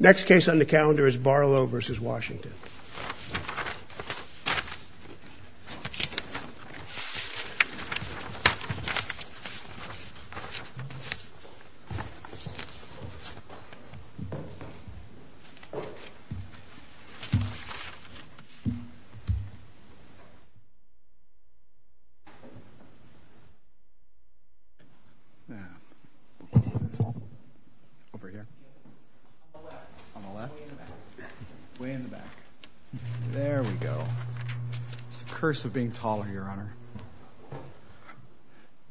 Next case on the calendar is Barlow v. Washington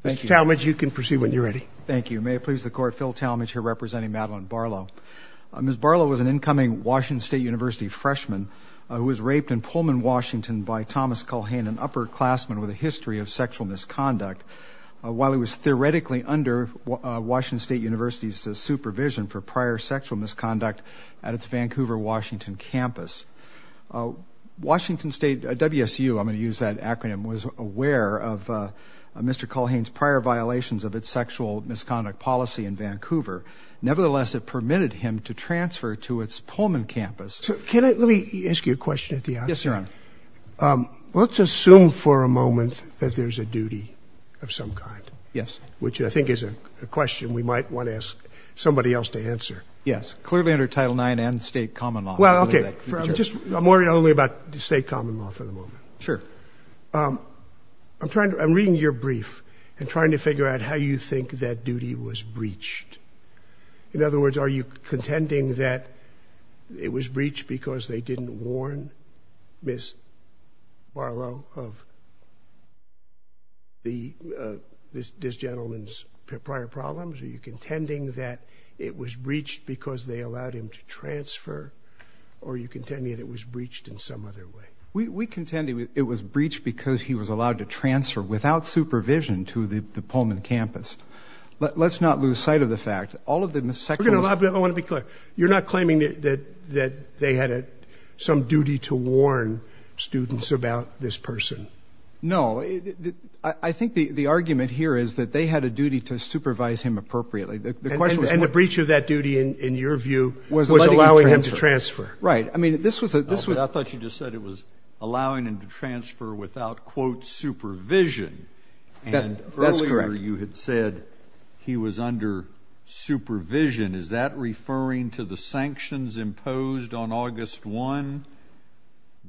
Mr. Talmadge, you can proceed when you're ready. Thank you. May it please the Court, Phil Talmadge here representing Madeleine Barlow. Ms. Barlow was an incoming Washington State University freshman who was raped in Pullman, Washington by Thomas Culhane, an upperclassman with a history of sexual misconduct. While he was theoretically under Washington State University's supervision for prior sexual misconduct at its Vancouver, Washington campus, Washington State, WSU, I'm going to use that acronym, was aware of Mr. Culhane's prior violations of its sexual misconduct policy in Vancouver. Nevertheless, it permitted him to transfer to its Pullman campus. Can I, let me ask you a question at the outset. Yes, Your Honor. Let's assume for a moment that there's a duty of some kind. Yes. Which I think is a question we might want to ask somebody else to answer. Yes. Clearly under Title IX and State Common Law. Well, okay. I'm just, I'm worried only about State Common Law for the moment. Sure. I'm trying to, I'm reading your brief and trying to figure out how you think that duty was breached. In other words, are you contending that it was breached because they didn't warn Ms. Barlow of this gentleman's prior problems? Are you contending that it was breached because they allowed him to transfer? Or are you contending that it was breached in some other way? We contend it was breached because he was allowed to transfer without supervision to the Pullman campus. Let's not lose sight of the fact. All of the sexual misconduct- I want to be clear. You're not claiming that they had some duty to warn students about this person? No. I think the argument here is that they had a duty to supervise him appropriately. The question was- And the breach of that duty, in your view, was allowing him to transfer. Right. I mean, this was a- I thought you just said it was allowing him to transfer without, quote, supervision. That's correct. And earlier you had said he was under supervision. Is that referring to the sanctions imposed on August 1?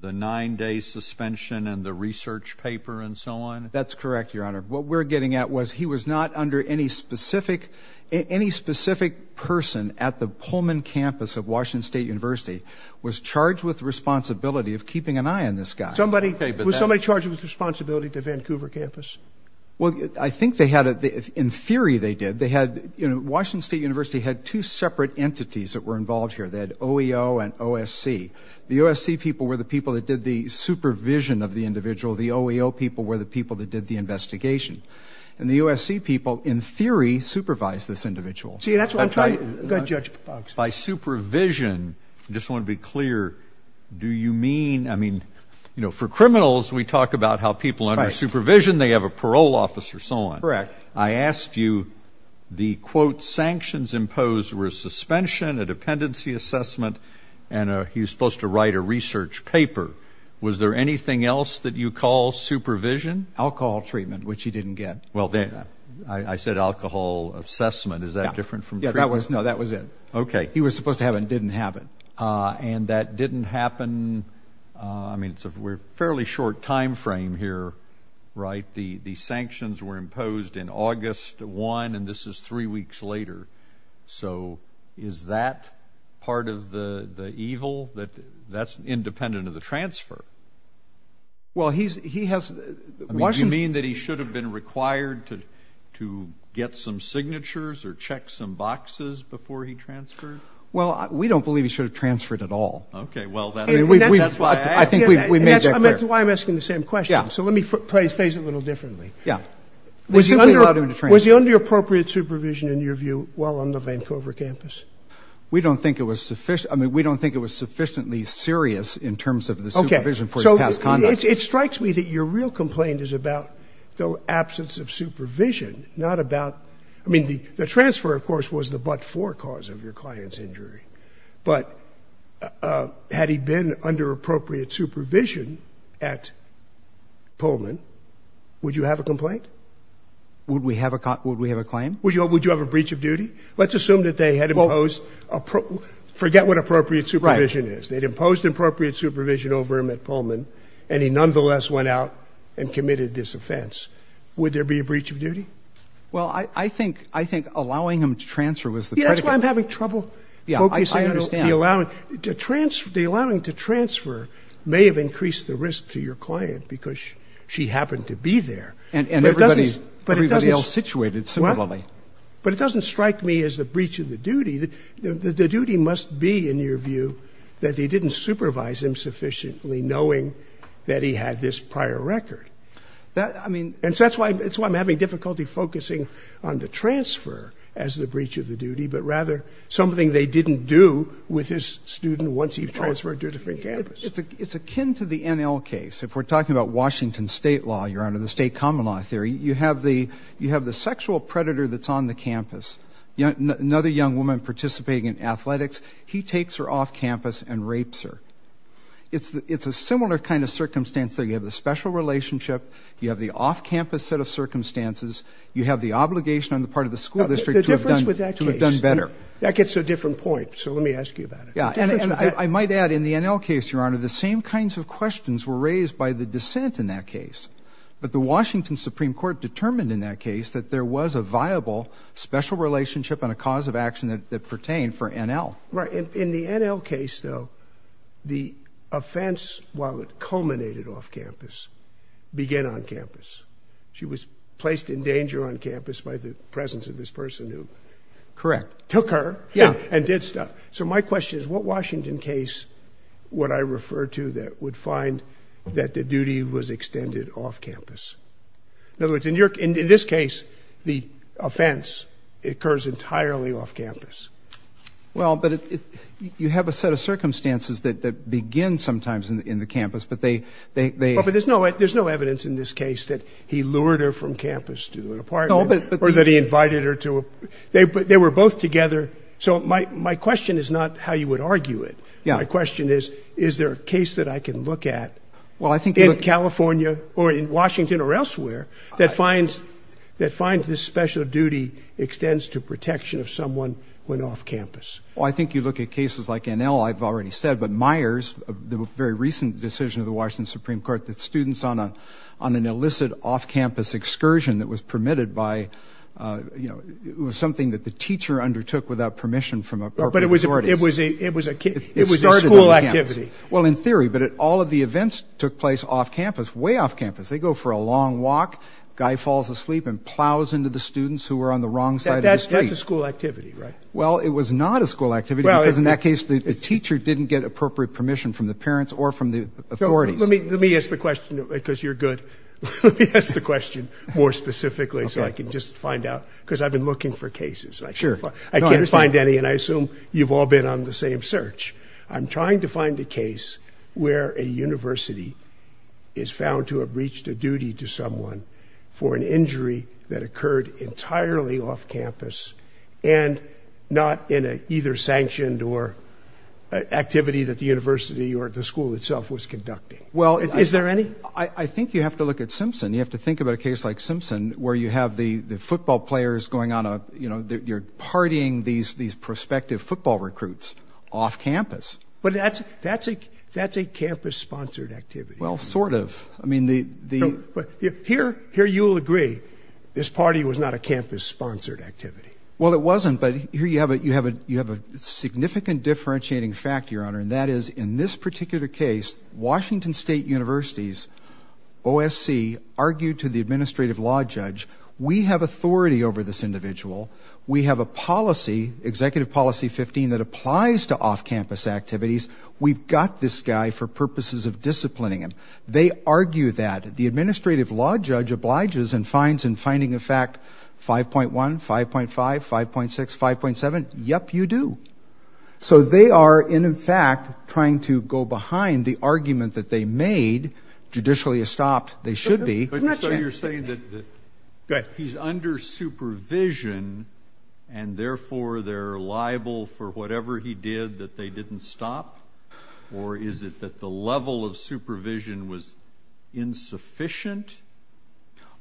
The nine-day suspension and the research paper and so on? That's correct, Your Honor. What we're getting at was he was not under any specific- Any specific person at the Pullman campus of Washington State University was charged with responsibility of keeping an eye on this guy. Somebody- Was somebody charged with responsibility at the Vancouver campus? Well, I think they had a- In theory, they did. They had- You know, Washington State University had two separate entities that were involved here. They had OEO and OSC. The OSC people were the people that did the supervision of the individual. The OEO people were the people that did the investigation. And the OSC people, in theory, supervised this individual. See, that's what I'm trying- Go ahead, Judge Boggs. By supervision, I just want to be clear. Do you mean- I mean, you know, for criminals, we talk about how people under supervision, they have a parole officer, so on. Correct. I asked you, the, quote, sanctions imposed were a suspension, a dependency assessment, and he was supposed to write a research paper. Was there anything else that you call supervision? Alcohol treatment, which he didn't get. Well, I said alcohol assessment. Is that different from treatment? Yeah, that was- No, that was it. Okay. He was supposed to have it and didn't have it. And that didn't happen- I mean, it's a fairly short time frame here, right? The sanctions were imposed in August 1, and this is three weeks later. So is that part of the evil? That's independent of the transfer. Well, he has- I mean, do you mean that he should have been required to get some signatures or check some boxes before he transferred? Well, we don't believe he should have transferred at all. Okay. Well, that's why I asked. I think we made that clear. And that's why I'm asking the same question. Yeah. So let me phrase it a little differently. Yeah. It's simply not a transfer. Was he under appropriate supervision, in your view, while on the Vancouver campus? We don't think it was sufficient. I mean, we don't think it was sufficiently serious in terms of the supervision for his past conduct. Okay. So it strikes me that your real complaint is about the absence of supervision, not about- I mean, the transfer, of course, was the but-for cause of your client's injury. But had he been under appropriate supervision at Pullman, would you have a complaint? Would we have a claim? Would you have a breach of duty? Well- Let's assume that they had imposed- forget what appropriate supervision is. Right. They'd imposed appropriate supervision over him at Pullman, and he nonetheless went out and committed this offense. Would there be a breach of duty? Well, I think allowing him to transfer was the predicate. Yeah. That's why I'm having trouble focusing on the- Yeah. I understand. The allowing to transfer may have increased the risk to your client because she happened to be there. And everybody- But it doesn't- Everybody else situated similarly. Well, but it doesn't strike me as a breach of the duty. The duty must be, in your view, that they didn't supervise him sufficiently knowing that he had this prior record. That- I mean- And so that's why I'm having difficulty focusing on the transfer as the breach of the duty, but rather something they didn't do with his student once he transferred to a different campus. It's akin to the NL case. If we're talking about Washington state law, your honor, the state common law theory, you have the sexual predator that's on the campus, another young woman participating in athletics. He takes her off campus and rapes her. It's a similar kind of circumstance that you have the special relationship, you have the off-campus set of circumstances, you have the obligation on the part of the school district to have done better. The difference with that case. That gets a different point, so let me ask you about it. Yeah. And I might add, in the NL case, your honor, the same kinds of questions were raised by the dissent in that case. But the Washington Supreme Court determined in that case that there was a viable special relationship and a cause of action that pertained for NL. Right. In the NL case, though, the offense, while it culminated off campus, began on campus. She was placed in danger on campus by the presence of this person who- Correct. Took her and did stuff. So my question is, what Washington case would I refer to that would find that the duty was extended off campus? In other words, in this case, the offense occurs entirely off campus. Well, but you have a set of circumstances that begin sometimes in the campus, but they- But there's no evidence in this case that he lured her from campus to an apartment or that he invited her to a- They were both together. So my question is not how you would argue it. My question is, is there a case that I can look at in California or in Washington or elsewhere that finds this special duty extends to protection of someone when off campus? Well, I think you look at cases like NL, I've already said, but Myers, the very recent decision of the Washington Supreme Court that students on an illicit off-campus excursion that was permitted by, you know, it was something that the teacher undertook without permission from appropriate authorities. But it was a- It started on campus. It was a school activity. Well, in theory, but all of the events took place off campus, way off campus. They go for a long walk, guy falls asleep and plows into the students who were on the wrong side of the street. That's a school activity, right? Well, it was not a school activity because in that case, the teacher didn't get appropriate permission from the parents or from the authorities. Let me, let me ask the question because you're good. Let me ask the question more specifically so I can just find out, because I've been looking for cases. I can't find any and I assume you've all been on the same search. I'm trying to find a case where a university is found to have reached a duty to someone for an injury that occurred entirely off campus and not in a either sanctioned or activity that the university or the school itself was conducting. Well- Is there any? I think you have to look at Simpson. You have to think about a case like Simpson where you have the football players going on a, you know, you're partying these, these prospective football recruits off campus. But that's, that's a, that's a campus-sponsored activity. Well sort of. I mean the, the- Here you'll agree this party was not a campus-sponsored activity. Well it wasn't, but here you have a, you have a, you have a significant differentiating fact, Your Honor, and that is in this particular case, Washington State University's OSC argued to the administrative law judge, we have authority over this individual. We have a policy, Executive Policy 15, that applies to off-campus activities. We've got this guy for purposes of disciplining him. They argue that the administrative law judge obliges and finds in finding a fact 5.1, 5.5, 5.6, 5.7, yep, you do. So they are, in fact, trying to go behind the argument that they made, judicially estopped they should be. So you're saying that he's under supervision and therefore they're liable for whatever he did that they didn't stop? Or is it that the level of supervision was insufficient?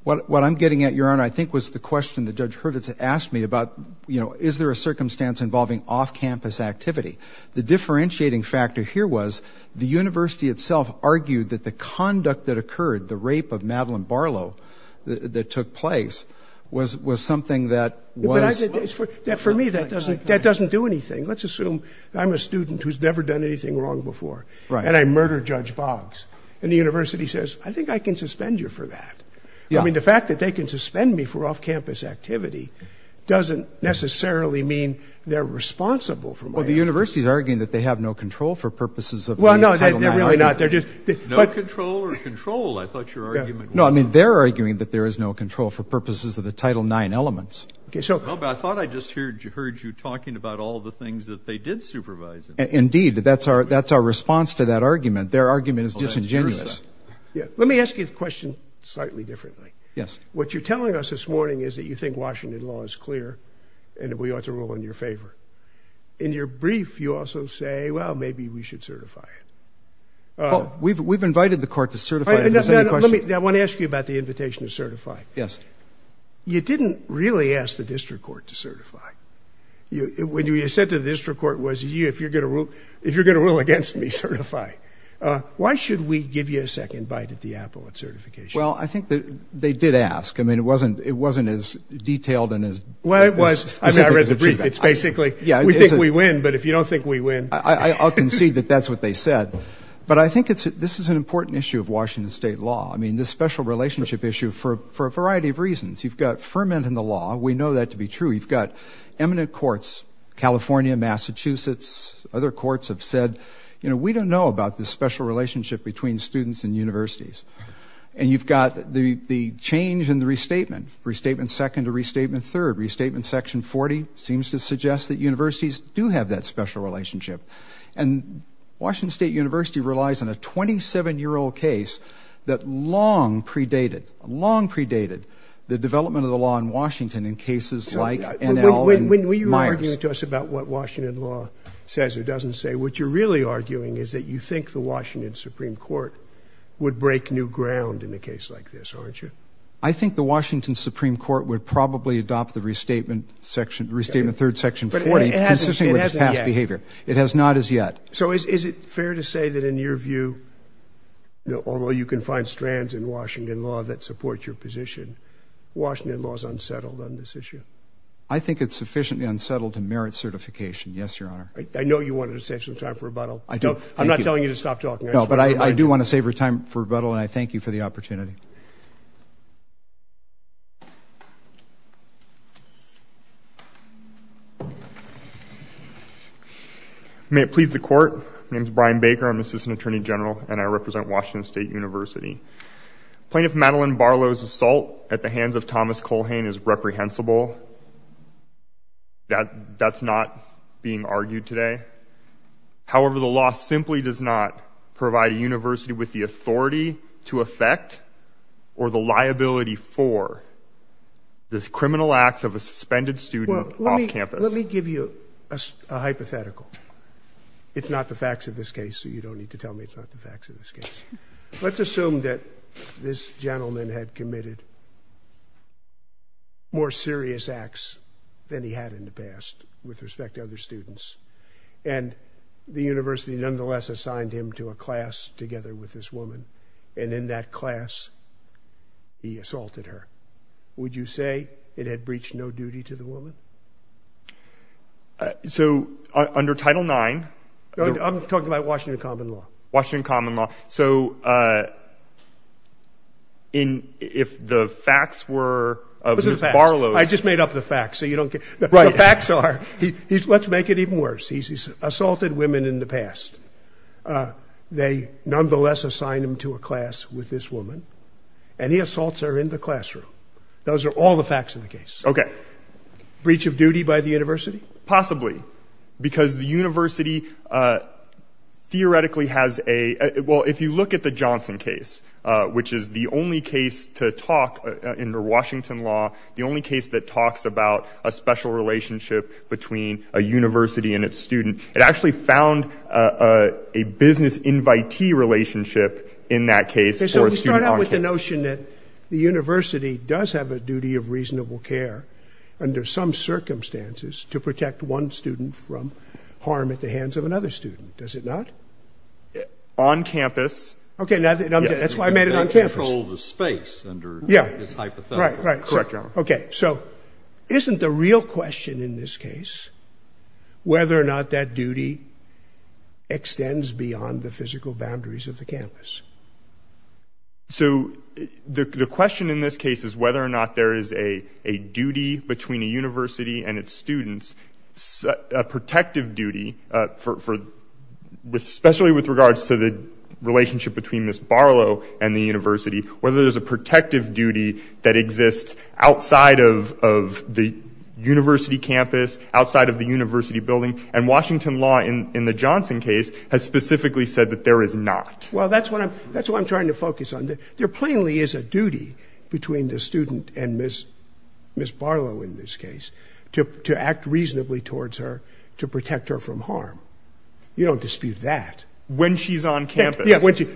What I'm getting at, Your Honor, I think was the question that Judge Hurwitz asked me about, you know, is there a circumstance involving off-campus activity? The differentiating factor here was the university itself argued that the conduct that occurred, the rape of Madeleine Barlow that took place, was something that was... For me, that doesn't do anything. Let's assume I'm a student who's never done anything wrong before and I murder Judge Boggs and the university says, I think I can suspend you for that. I mean, the fact that they can suspend me for off-campus activity doesn't necessarily mean they're responsible for my actions. Well, the university's arguing that they have no control for purposes of the Title IX. Well, no, they're really not. They're just... No control or control, I thought your argument was... No, I mean, they're arguing that there is no control for purposes of the Title IX elements. Okay, so... Well, but I thought I just heard you talking about all the things that they did supervise him. Indeed, that's our response to that argument. Their argument is disingenuous. Let me ask you the question slightly differently. What you're telling us this morning is that you think Washington law is clear and that we ought to rule in your favor. In your brief, you also say, well, maybe we should certify it. We've invited the court to certify it. Let me... I want to ask you about the invitation to certify. You didn't really ask the district court to certify. What you said to the district court was, if you're going to rule against me, certify. Why should we give you a second bite at the apple at certification? Well, I think that they did ask. I mean, it wasn't as detailed and as... Well, it was. I mean, I read the brief. It's basically, we think we win, but if you don't think we win... I'll concede that that's what they said. But I think this is an important issue of Washington state law. I mean, this special relationship issue for a variety of reasons. You've got ferment in the law. We know that to be true. You've got eminent courts, California, Massachusetts, other courts have said, you know, we don't know about this special relationship between students and universities. And you've got the change in the restatement. Restatement second to restatement third. Restatement section 40 seems to suggest that universities do have that special relationship. And Washington State University relies on a 27-year-old case that long predated, long predated the development of the law in Washington in cases like NL and Myers. When you're arguing to us about what Washington law says or doesn't say, what you're really arguing is that you think the Washington Supreme Court would break new ground in a case like this, aren't you? I think the Washington Supreme Court would probably adopt the restatement section, restatement third section 40, consisting of its past behavior. It has not as yet. So is it fair to say that in your view, although you can find strands in Washington law that support your position, Washington law is unsettled on this issue? I think it's sufficiently unsettled in merit certification. Yes, your honor. I know you wanted to save some time for rebuttal. I do. I'm not telling you to stop talking. No, but I do want to save your time for rebuttal and I thank you for the opportunity. May it please the court. My name is Brian Baker. I'm assistant attorney general and I represent Washington State University. Plaintiff Madeline Barlow's assault at the hands of Thomas Colhane is reprehensible. That's not being argued today. However, the law simply does not provide a university with the authority to affect or the liability for this criminal acts of a suspended student off campus. Let me give you a hypothetical. It's not the facts of this case, so you don't need to tell me it's not the facts of this case. Let's assume that this gentleman had committed more serious acts than he had in the past with respect to other students and the university nonetheless assigned him to a class together with this woman and in that class, he assaulted her. Would you say it had breached no duty to the woman? So under Title IX, I'm talking about Washington common law, Washington common law. So in if the facts were of Barlow, I just made up the facts so you don't get the facts are he's let's make it even worse. He's assaulted women in the past. They nonetheless assigned him to a class with this woman and he assaults her in the classroom. Those are all the facts of the case. Okay. Breach of duty by the university? Possibly because the university theoretically has a well, if you look at the Johnson case, which is the only case to talk in the Washington law, the only case that talks about a special relationship between a university and its student, it actually found a business invitee relationship in that case. So we start out with the notion that the university does have a duty of reasonable care under some circumstances to protect one student from harm at the hands of another student. Does it not? On campus. Okay. That's why I made it on campus. They control the space under this hypothetical. Correct, Your Honor. Okay. So isn't the real question in this case, whether or not that duty extends beyond the physical boundaries of the campus? So the question in this case is whether or not there is a duty between a university and its students, a protective duty, especially with regards to the relationship between this Barlow and the university, whether there's a protective duty that exists outside of the university campus, outside of the university building, and Washington law in the Johnson case has specifically said that there is not. Well, that's what I'm trying to focus on. There plainly is a duty between the student and Ms. Barlow in this case to act reasonably towards her to protect her from harm. You don't dispute that. When she's on campus.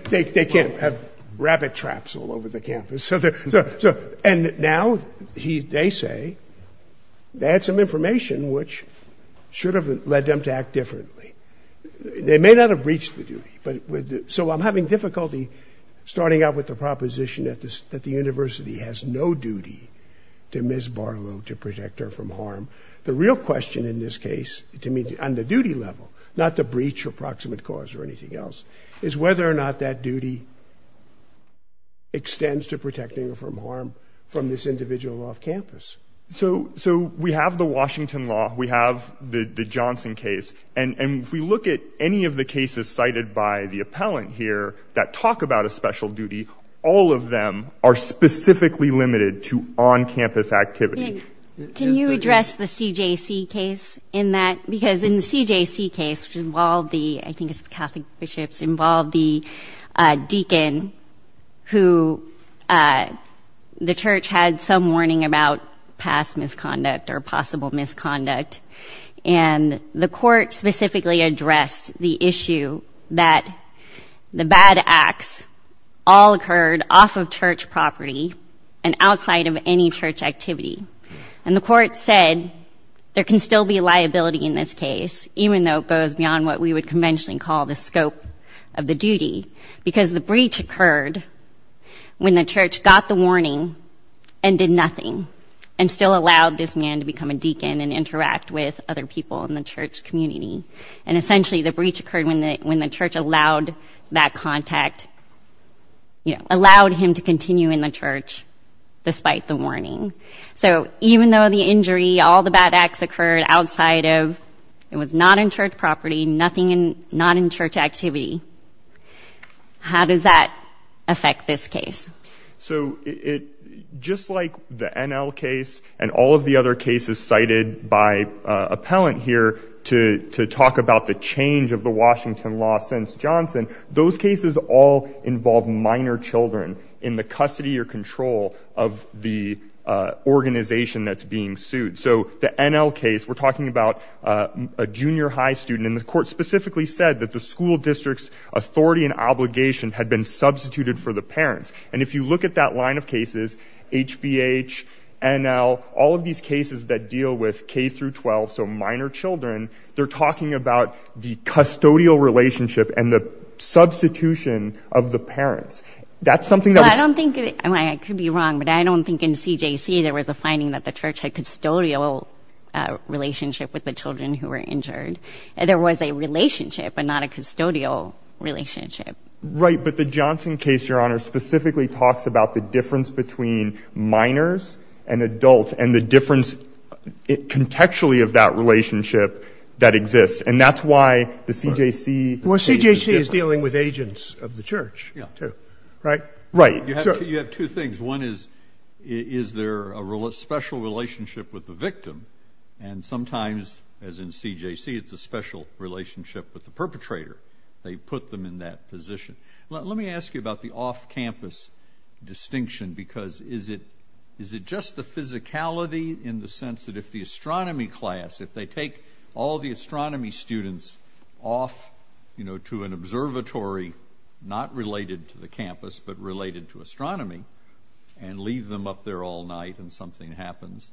They can't have rabbit traps all over the campus. And now they say they had some information which should have led them to act differently. They may not have breached the duty. So I'm having difficulty starting out with the proposition that the university has no duty to Ms. Barlow to protect her from harm. The real question in this case, on the duty level, not the breach or proximate cause or not that duty extends to protecting her from harm from this individual off campus. So we have the Washington law, we have the Johnson case, and if we look at any of the cases cited by the appellant here that talk about a special duty, all of them are specifically limited to on-campus activity. Can you address the CJC case in that, because in the CJC case, which involved the, I think deacon, who the church had some warning about past misconduct or possible misconduct, and the court specifically addressed the issue that the bad acts all occurred off of church property and outside of any church activity. And the court said there can still be liability in this case, even though it goes beyond what we would conventionally call the scope of the duty, because the breach occurred when the church got the warning and did nothing, and still allowed this man to become a deacon and interact with other people in the church community. And essentially the breach occurred when the church allowed that contact, allowed him to continue in the church despite the warning. So even though the injury, all the bad acts occurred outside of, it was not in church property, nothing in, not in church activity. How does that affect this case? So it, just like the NL case and all of the other cases cited by appellant here to talk about the change of the Washington law since Johnson, those cases all involve minor children in the custody or control of the organization that's being sued. So the NL case, we're talking about a junior high student, and the court specifically said that the school district's authority and obligation had been substituted for the parents. And if you look at that line of cases, HBH, NL, all of these cases that deal with K-12, so minor children, they're talking about the custodial relationship and the substitution of the parents. That's something that was- Well, I don't think, and I could be wrong, but I don't think in CJC there was a finding that the church had custodial relationship with the children who were injured. There was a relationship, but not a custodial relationship. Right. But the Johnson case, Your Honor, specifically talks about the difference between minors and adults and the difference contextually of that relationship that exists. And that's why the CJC- Well, CJC is dealing with agents of the church, too. Yeah. Right? Right. You have two things. One is, is there a special relationship with the victim? And sometimes, as in CJC, it's a special relationship with the perpetrator. They put them in that position. Let me ask you about the off-campus distinction, because is it just the physicality in the sense that if the astronomy class, if they take all the astronomy students off to an academy and leave them up there all night and something happens,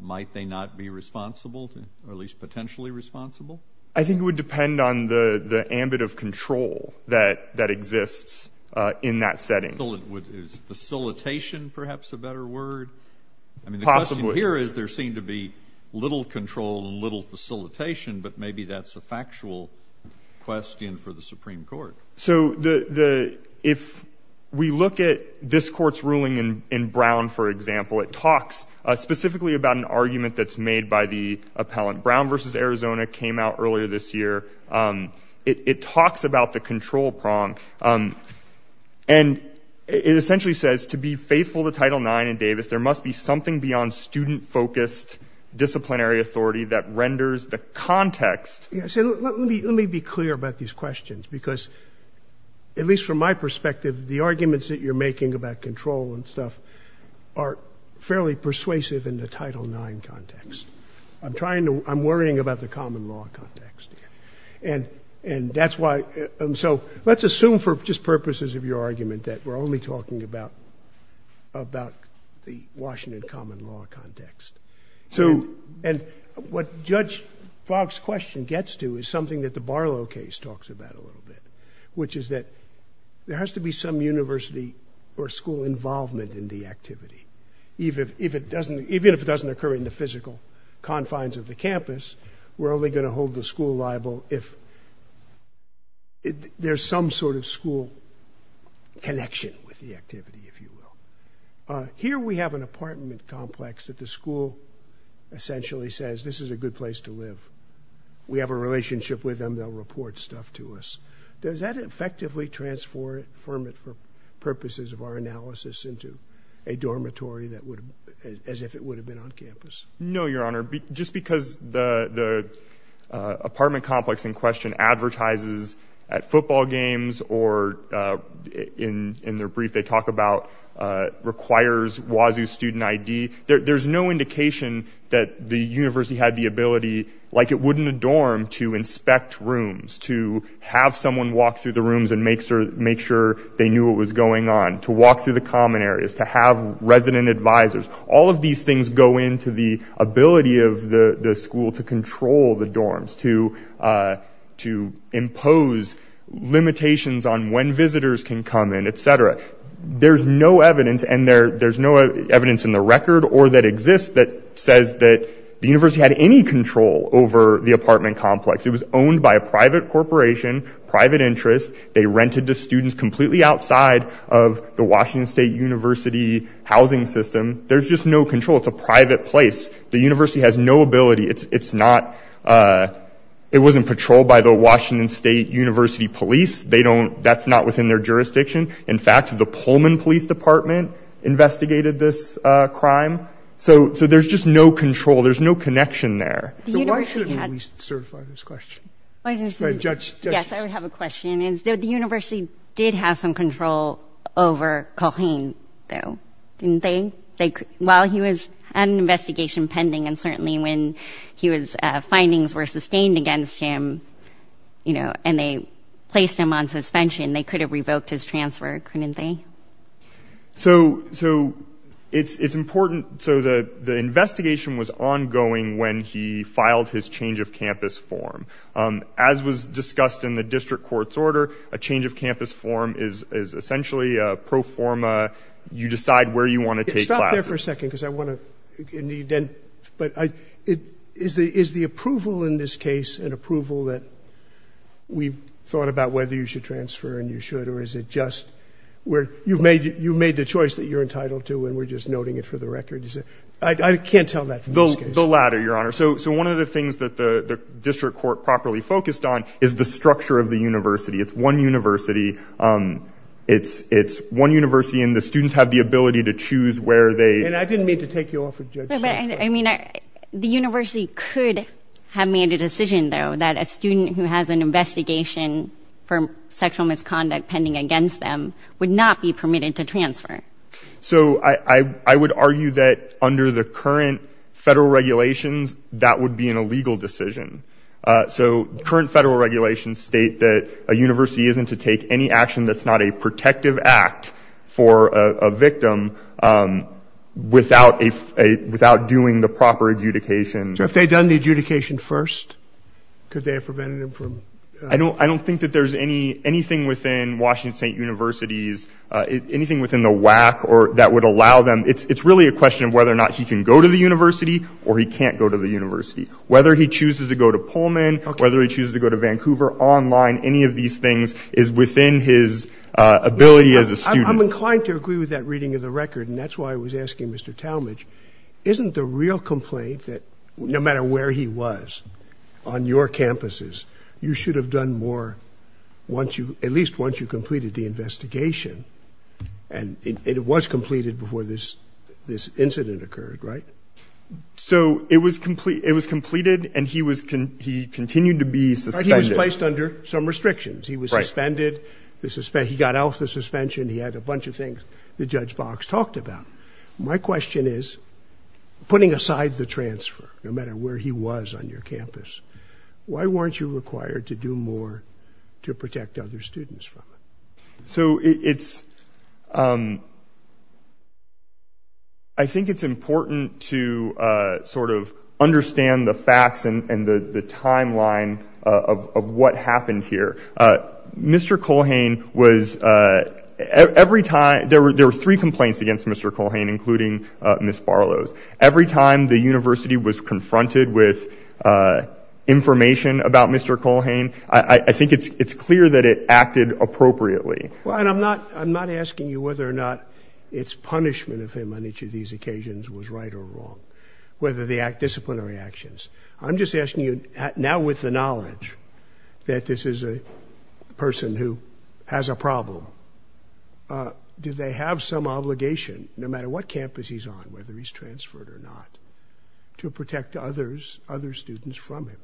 might they not be responsible, or at least potentially responsible? I think it would depend on the ambit of control that exists in that setting. Is facilitation perhaps a better word? Possibly. I mean, the question here is there seemed to be little control and little facilitation, but maybe that's a factual question for the Supreme Court. So if we look at this court's ruling in Brown, for example, it talks specifically about an argument that's made by the appellant. Brown v. Arizona came out earlier this year. It talks about the control prong. And it essentially says, to be faithful to Title IX in Davis, there must be something beyond student-focused disciplinary authority that renders the context- At least from my perspective, the arguments that you're making about control and stuff are fairly persuasive in the Title IX context. I'm worrying about the common law context. And that's why- So let's assume for just purposes of your argument that we're only talking about the Washington common law context. And what Judge Fogg's question gets to is something that the Barlow case talks about a little bit, which is that there has to be some university or school involvement in the activity. Even if it doesn't occur in the physical confines of the campus, we're only going to hold the school liable if there's some sort of school connection with the activity, if you will. Here we have an apartment complex that the school essentially says, this is a good place to live. We have a relationship with them. They'll report stuff to us. Does that effectively transform it for purposes of our analysis into a dormitory as if it would have been on campus? No, Your Honor. Just because the apartment complex in question advertises at football games or in their brief they talk about requires WASU student ID, there's no indication that the university had the ability, like it would in a dorm, to inspect rooms, to have someone walk through the rooms and make sure they knew what was going on, to walk through the common areas, to have resident advisors. All of these things go into the ability of the school to control the dorms, to impose limitations on when visitors can come in, et cetera. There's no evidence, and there's no evidence in the record or that exists that says that the university had any control over the apartment complex. It was owned by a private corporation, private interest. They rented to students completely outside of the Washington State University housing system. There's just no control. It's a private place. The university has no ability. It wasn't patrolled by the Washington State University police. That's not within their jurisdiction. In fact, the Pullman Police Department investigated this crime. So there's just no control. There's no connection there. So why shouldn't we at least certify this question? Go ahead, judge. Yes, I have a question. The university did have some control over Corrine, though, didn't they? While he was on investigation pending, and certainly when his findings were sustained against him and they placed him on suspension, they could have revoked his transfer, couldn't they? So, it's important, so the investigation was ongoing when he filed his change of campus form. As was discussed in the district court's order, a change of campus form is essentially a pro forma, you decide where you want to take classes. Stop there for a second because I want to, but is the approval in this case an approval that we've thought about whether you should transfer and you should, or is it just where you've made the choice that you're entitled to and we're just noting it for the record? I can't tell that from this case. The latter, your honor. So, one of the things that the district court properly focused on is the structure of the university. It's one university. It's one university and the students have the ability to choose where they- And I didn't mean to take you off of, judge. But, I mean, the university could have made a decision, though, that a student who has an investigation for sexual misconduct pending against them would not be permitted to transfer. So, I would argue that under the current federal regulations, that would be an illegal decision. So, current federal regulations state that a university isn't to take any action that's not a protective act for a victim without doing the proper adjudication. So, if they'd done the adjudication first, could they have prevented him from- I don't think that there's anything within Washington State University's, anything within the WAC that would allow them, it's really a question of whether or not he can go to the university or he can't go to the university. Whether he chooses to go to Pullman, whether he chooses to go to Vancouver Online, any of these things is within his ability as a student. I'm inclined to agree with that reading of the record, and that's why I was asking Mr. Talmadge, isn't the real complaint that no matter where he was on your campuses, you should have done more once you, at least once you completed the investigation, and it was completed before this incident occurred, right? So it was completed and he continued to be suspended. He was placed under some restrictions. He was suspended, he got off the suspension, he had a bunch of things that Judge Box talked about. My question is, putting aside the transfer, no matter where he was on your campus, why weren't you required to do more to protect other students from it? So it's, I think it's important to sort of understand the facts and the timeline of what happened here. Mr. Culhane was, every time, there were three complaints against Mr. Culhane, including Ms. Barlow's. Every time the university was confronted with information about Mr. Culhane, I think it's Well, and I'm not, I'm not asking you whether or not it's punishment of him on each of these occasions was right or wrong, whether they act disciplinary actions. I'm just asking you now with the knowledge that this is a person who has a problem, do they have some obligation no matter what campus he's on, whether he's transferred or not, to protect others, other students from him?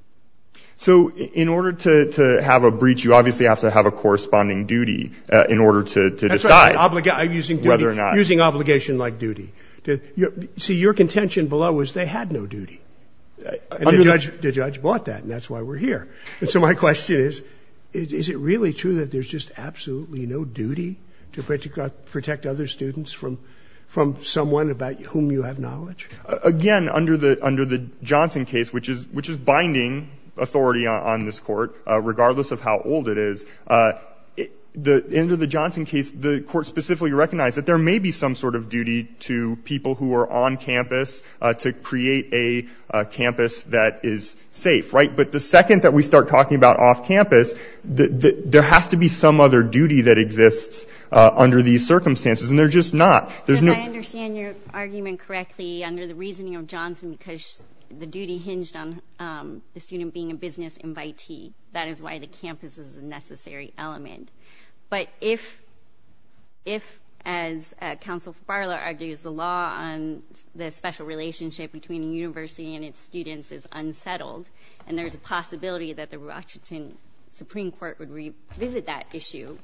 So in order to have a breach, you obviously have to have a corresponding duty in order to decide whether or not. That's right. I'm using duty. I'm using obligation like duty. See, your contention below was they had no duty, and the judge bought that, and that's why we're here. And so my question is, is it really true that there's just absolutely no duty to protect other students from someone about whom you have knowledge? Again, under the Johnson case, which is binding authority on this court, regardless of how old it is, under the Johnson case, the court specifically recognized that there may be some sort of duty to people who are on campus to create a campus that is safe, right? But the second that we start talking about off-campus, there has to be some other duty that exists under these circumstances, and there's just not. I understand your argument correctly, under the reasoning of Johnson, because the duty hinged on the student being a business invitee. That is why the campus is a necessary element. But if, as Counsel Farlow argues, the law on the special relationship between a university and its students is unsettled, and there's a possibility that the Washington Supreme Court would revisit that issue,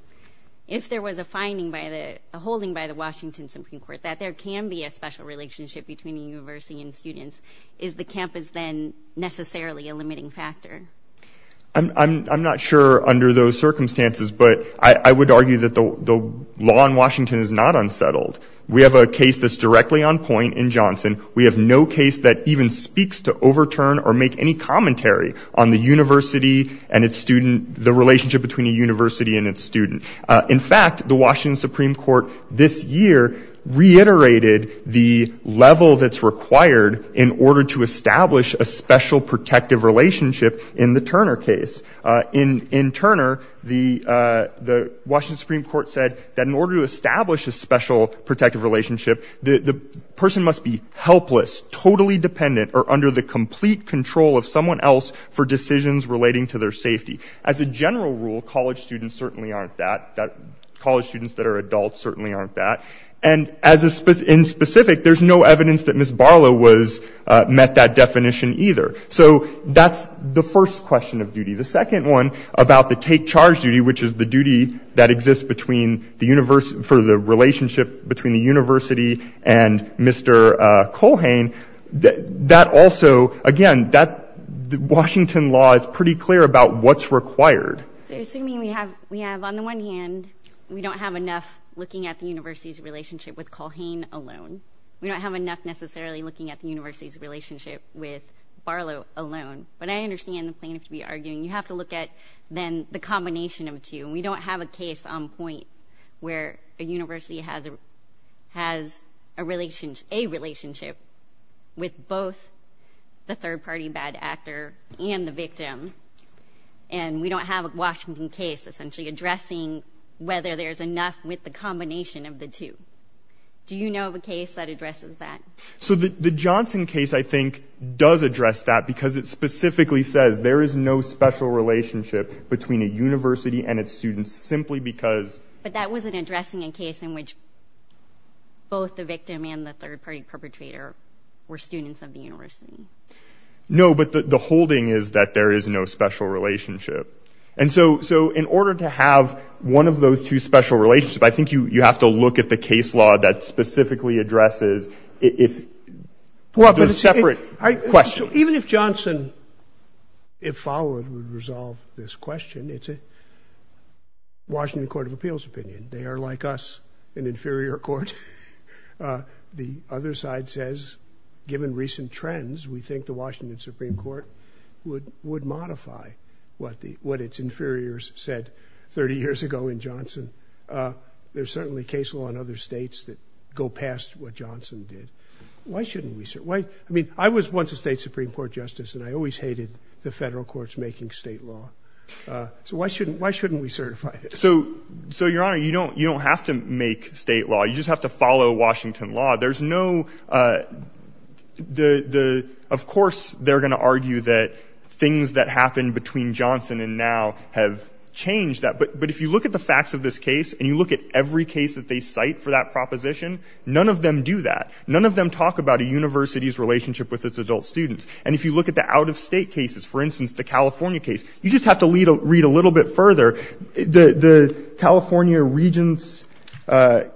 if there was a finding by the, a holding by the Washington Supreme Court that there can be a special relationship between a university and students, is the campus then necessarily a limiting factor? I'm not sure under those circumstances, but I would argue that the law in Washington is not unsettled. We have a case that's directly on point in Johnson. We have no case that even speaks to overturn or make any commentary on the university and its student, the relationship between a university and its student. In fact, the Washington Supreme Court this year reiterated the level that's required in order to establish a special protective relationship in the Turner case. In Turner, the Washington Supreme Court said that in order to establish a special protective relationship, the person must be helpless, totally dependent, or under the complete control of someone else for decisions relating to their safety. As a general rule, college students certainly aren't that, college students that are adults certainly aren't that. And in specific, there's no evidence that Ms. Barlow met that definition either. So that's the first question of duty. The second one about the take charge duty, which is the duty that exists for the relationship between the university and Mr. Colhane, that also, again, Washington law is pretty clear about what's required. So assuming we have, on the one hand, we don't have enough looking at the university's relationship with Colhane alone. We don't have enough necessarily looking at the university's relationship with Barlow alone. But I understand the plaintiff to be arguing, you have to look at then the combination of two. We don't have a case on point where a university has a relationship with both the third party bad actor and the victim. And we don't have a Washington case essentially addressing whether there's enough with the combination of the two. Do you know of a case that addresses that? So the Johnson case, I think, does address that because it specifically says there is no special relationship between a university and its students, simply because... But that wasn't addressing a case in which both the victim and the third party perpetrator were students of the university. No, but the holding is that there is no special relationship. And so in order to have one of those two special relationships, I think you have to look at the case law that specifically addresses if there's separate questions. Even if Johnson, if followed, would resolve this question, it's a Washington Court of Appeals opinion. They are like us, an inferior court. The other side says, given recent trends, we think the Washington Supreme Court would modify what its inferiors said 30 years ago in Johnson. There's certainly case law in other states that go past what Johnson did. Why shouldn't we... I mean, I was once a state Supreme Court justice and I always hated the federal courts making state law. So why shouldn't we certify this? So Your Honor, you don't have to make state law. You just have to follow Washington law. There's no... Of course, they're going to argue that things that happened between Johnson and now have changed that. But if you look at the facts of this case and you look at every case that they cite for that proposition, none of them do that. None of them talk about a university's relationship with its adult students. And if you look at the out-of-state cases, for instance, the California case, you just have to read a little bit further. The California Regents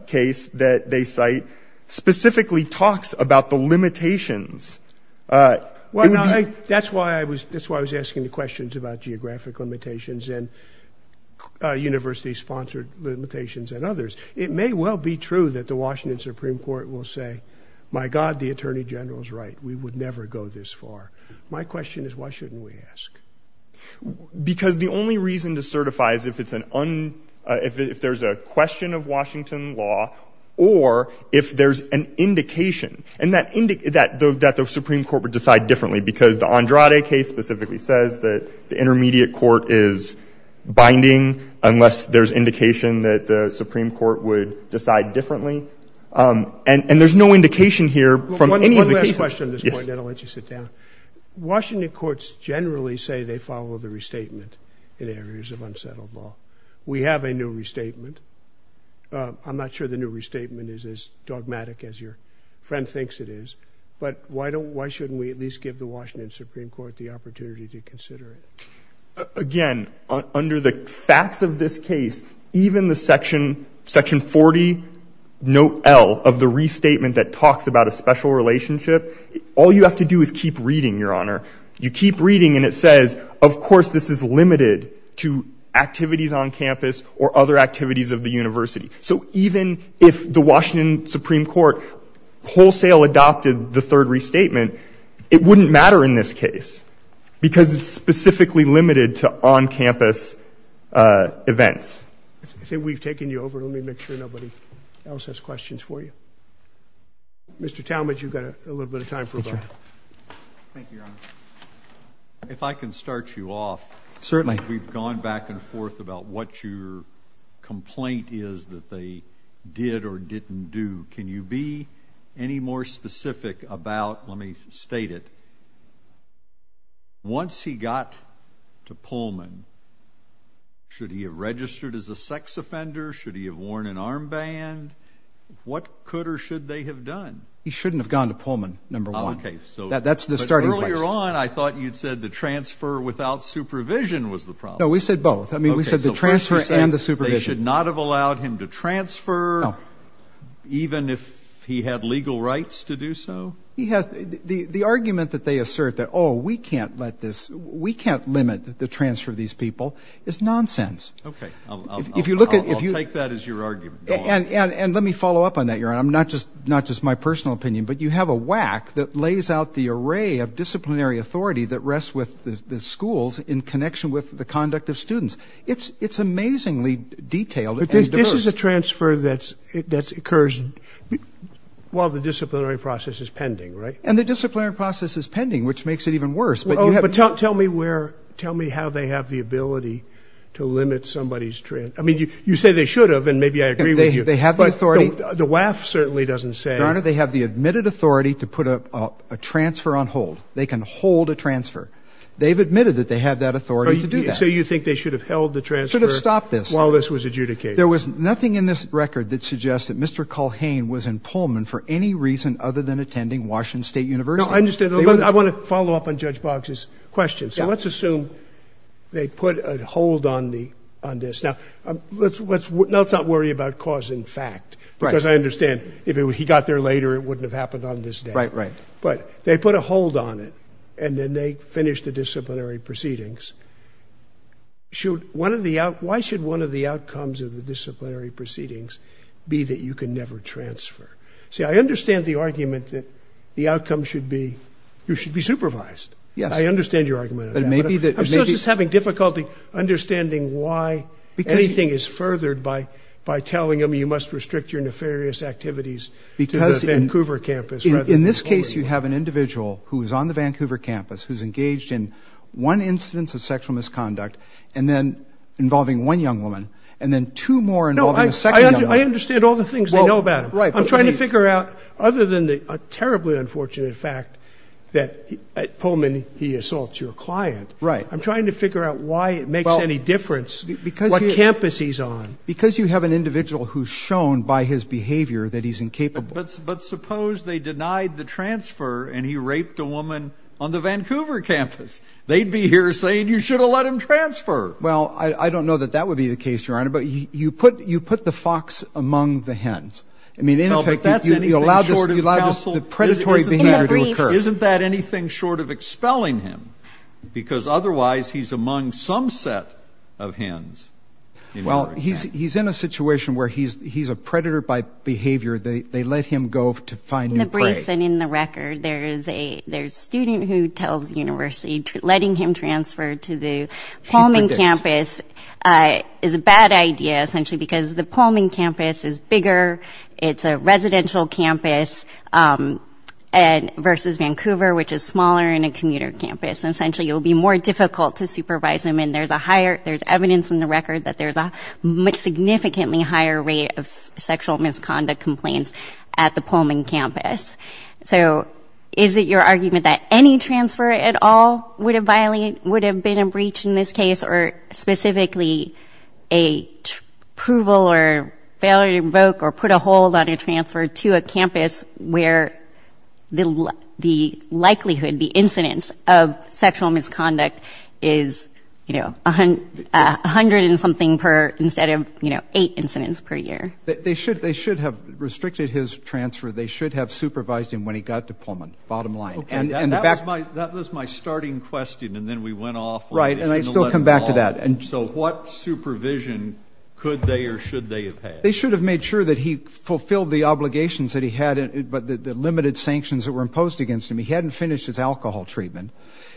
case that they cite specifically talks about the limitations. That's why I was asking the questions about geographic limitations and university-sponsored limitations and others. It may well be true that the Washington Supreme Court will say, my God, the Attorney General is right. We would never go this far. My question is, why shouldn't we ask? Because the only reason to certify is if there's a question of Washington law or if there's an indication, and that the Supreme Court would decide differently because the Andrade case specifically says that the intermediate court is binding unless there's indication that the Supreme Court would decide differently. And there's no indication here from any of the cases... One last question at this point, then I'll let you sit down. Washington courts generally say they follow the restatement in areas of unsettled law. We have a new restatement. I'm not sure the new restatement is as dogmatic as your friend thinks it is. But why shouldn't we at least give the Washington Supreme Court the opportunity to consider it? Again, under the facts of this case, even the section 40, note L, of the restatement that talks about a special relationship, all you have to do is keep reading, Your Honor. You keep reading and it says, of course, this is limited to activities on campus or other activities of the university. So even if the Washington Supreme Court wholesale adopted the third restatement, it wouldn't matter in this case because it's specifically limited to on-campus events. I think we've taken you over. Let me make sure nobody else has questions for you. Mr. Talmadge, you've got a little bit of time for a vote. Thank you, Your Honor. If I can start you off. Certainly. We've gone back and forth about what your complaint is that they did or didn't do. Can you be any more specific about, let me state it, once he got to Pullman, should he have registered as a sex offender? Should he have worn an armband? What could or should they have done? He shouldn't have gone to Pullman, number one. That's the starting place. Earlier on, I thought you'd said the transfer without supervision was the problem. No, we said both. I mean, we said the transfer and the supervision. They should not have allowed him to transfer even if he had legal rights to do so? The argument that they assert that, oh, we can't let this, we can't limit the transfer of these people is nonsense. Okay. I'll take that as your argument. And let me follow up on that, Your Honor. Not just my personal opinion, but you have a whack that lays out the array of disciplinary authority that rests with the schools in connection with the conduct of students. It's amazingly detailed and diverse. This is a transfer that occurs while the disciplinary process is pending, right? And the disciplinary process is pending, which makes it even worse. But tell me where, tell me how they have the ability to limit somebody's transfer. I mean, you say they should have, and maybe I agree with you. They have the authority. The WAF certainly doesn't say. Your Honor, they have the admitted authority to put a transfer on hold. They can hold a transfer. They've admitted that they have that authority to do that. So you think they should have held the transfer while this was adjudicated? There was nothing in this record that suggests that Mr. Culhane was in Pullman for any reason other than attending Washington State University. No, I understand. I want to follow up on Judge Boggs's question. So let's assume they put a hold on this. Now, let's not worry about cause and fact, because I understand if he got there later, it wouldn't have happened on this day. But they put a hold on it, and then they finished the disciplinary proceedings. Why should one of the outcomes of the disciplinary proceedings be that you can never transfer? See, I understand the argument that the outcome should be you should be supervised. I understand your argument on that, but I'm still just having difficulty understanding why anything is furthered by telling them you must restrict your nefarious activities to the Vancouver campus rather than over you. In this case, you have an individual who's on the Vancouver campus who's engaged in one instance of sexual misconduct, and then involving one young woman, and then two more involving a second young woman. I understand all the things they know about him. I'm trying to figure out, other than the terribly unfortunate fact that at Pullman, he assaults your client, I'm trying to figure out why it makes any difference what campus he's on. Because you have an individual who's shown by his behavior that he's incapable. But suppose they denied the transfer, and he raped a woman on the Vancouver campus. They'd be here saying you should have let him transfer. Well, I don't know that that would be the case, Your Honor, but you put the fox among the hens. I mean, in effect, you allow just the predatory behavior to occur. Isn't that anything short of expelling him? Because otherwise, he's among some set of hens. Well, he's in a situation where he's a predator by behavior. They let him go to find new prey. In the briefs and in the record, there's a student who tells the university, letting him transfer to the Pullman campus is a bad idea, essentially because the Pullman campus is bigger. It's a residential campus versus Vancouver, which is smaller and a commuter campus. And essentially, it will be more difficult to supervise him. And there's evidence in the record that there's a significantly higher rate of sexual misconduct complaints at the Pullman campus. So is it your argument that any transfer at all would have been a breach in this case? Or specifically, a approval or failure to revoke or put a hold on a transfer to a campus where the likelihood, the incidence of sexual misconduct is, you know, a hundred and something per instead of, you know, eight incidents per year? They should have restricted his transfer. They should have supervised him when he got to Pullman, bottom line. And that was my starting question. And then we went off. Right. And I still come back to that. And so what supervision could they or should they have had? They should have made sure that he fulfilled the obligations that he had, but the limited sanctions that were imposed against him. He hadn't finished his alcohol treatment.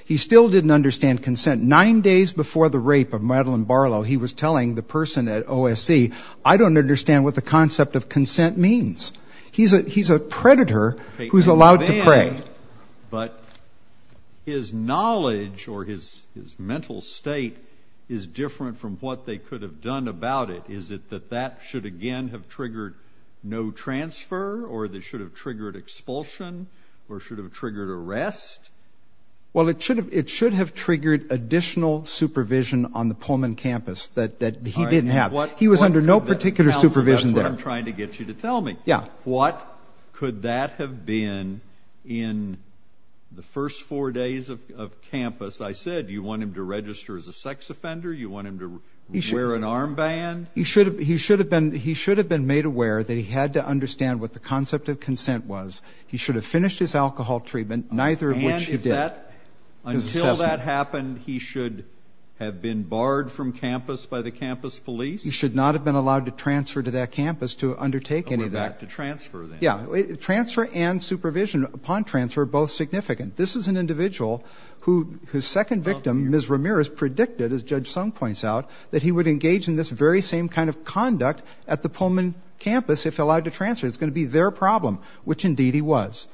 He still didn't understand consent. Nine days before the rape of Madeline Barlow, he was telling the person at OSC, I don't understand what the concept of consent means. He's a predator who's allowed to pray. But his knowledge or his mental state is different from what they could have done about it. Is it that that should again have triggered no transfer or that should have triggered expulsion or should have triggered arrest? Well, it should have triggered additional supervision on the Pullman campus that he didn't have. He was under no particular supervision there. That's what I'm trying to get you to tell me. Yeah. What could that have been in the first four days of campus? I said, you want him to register as a sex offender? You want him to wear an armband? He should have been made aware that he had to understand what the concept of consent was. He should have finished his alcohol treatment, neither of which he did. Until that happened, he should have been barred from campus by the campus police? He should not have been allowed to transfer to that campus to undertake any of that. Yeah. Transfer and supervision upon transfer are both significant. This is an individual whose second victim, Ms. Ramirez, predicted, as Judge Sung points out, that he would engage in this very same kind of conduct at the Pullman campus if allowed to transfer. It's going to be their problem, which indeed he was.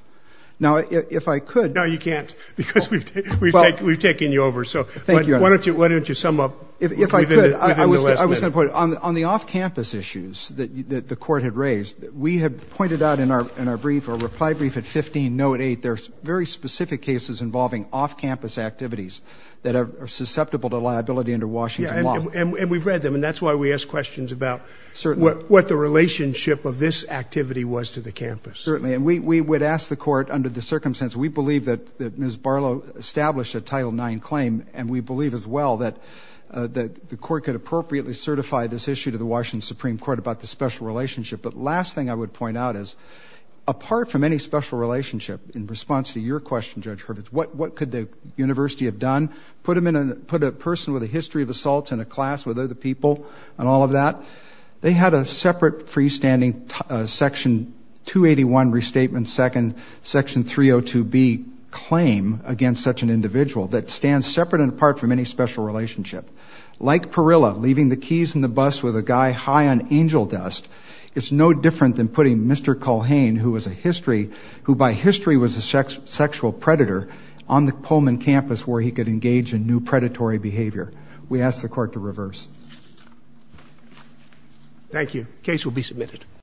Now, if I could... No, you can't, because we've taken you over. So why don't you sum up? If I could, I was going to put it on the off-campus issues that the court had raised. We have pointed out in our reply brief at 15, note 8, there's very specific cases involving off-campus activities that are susceptible to liability under Washington law. And we've read them, and that's why we ask questions about... Certainly. ...what the relationship of this activity was to the campus. Certainly. And we would ask the court, under the circumstance, we believe that Ms. Barlow established a Title IX claim, and we believe as well that the court could appropriately certify this issue to the Washington Supreme Court about the special relationship. But last thing I would point out is, apart from any special relationship, in response to your question, Judge Hurwitz, what could the university have done? Put a person with a history of assaults in a class with other people and all of that? They had a separate freestanding Section 281 Restatement, Second Section 302B claim against such an individual that stands separate and apart from any special relationship. Like Perilla leaving the keys in the bus with a guy high on angel dust, it's no different than putting Mr. Culhane, who by history was a sexual predator, on the Pullman campus where he could engage in new predatory behavior. We ask the court to reverse.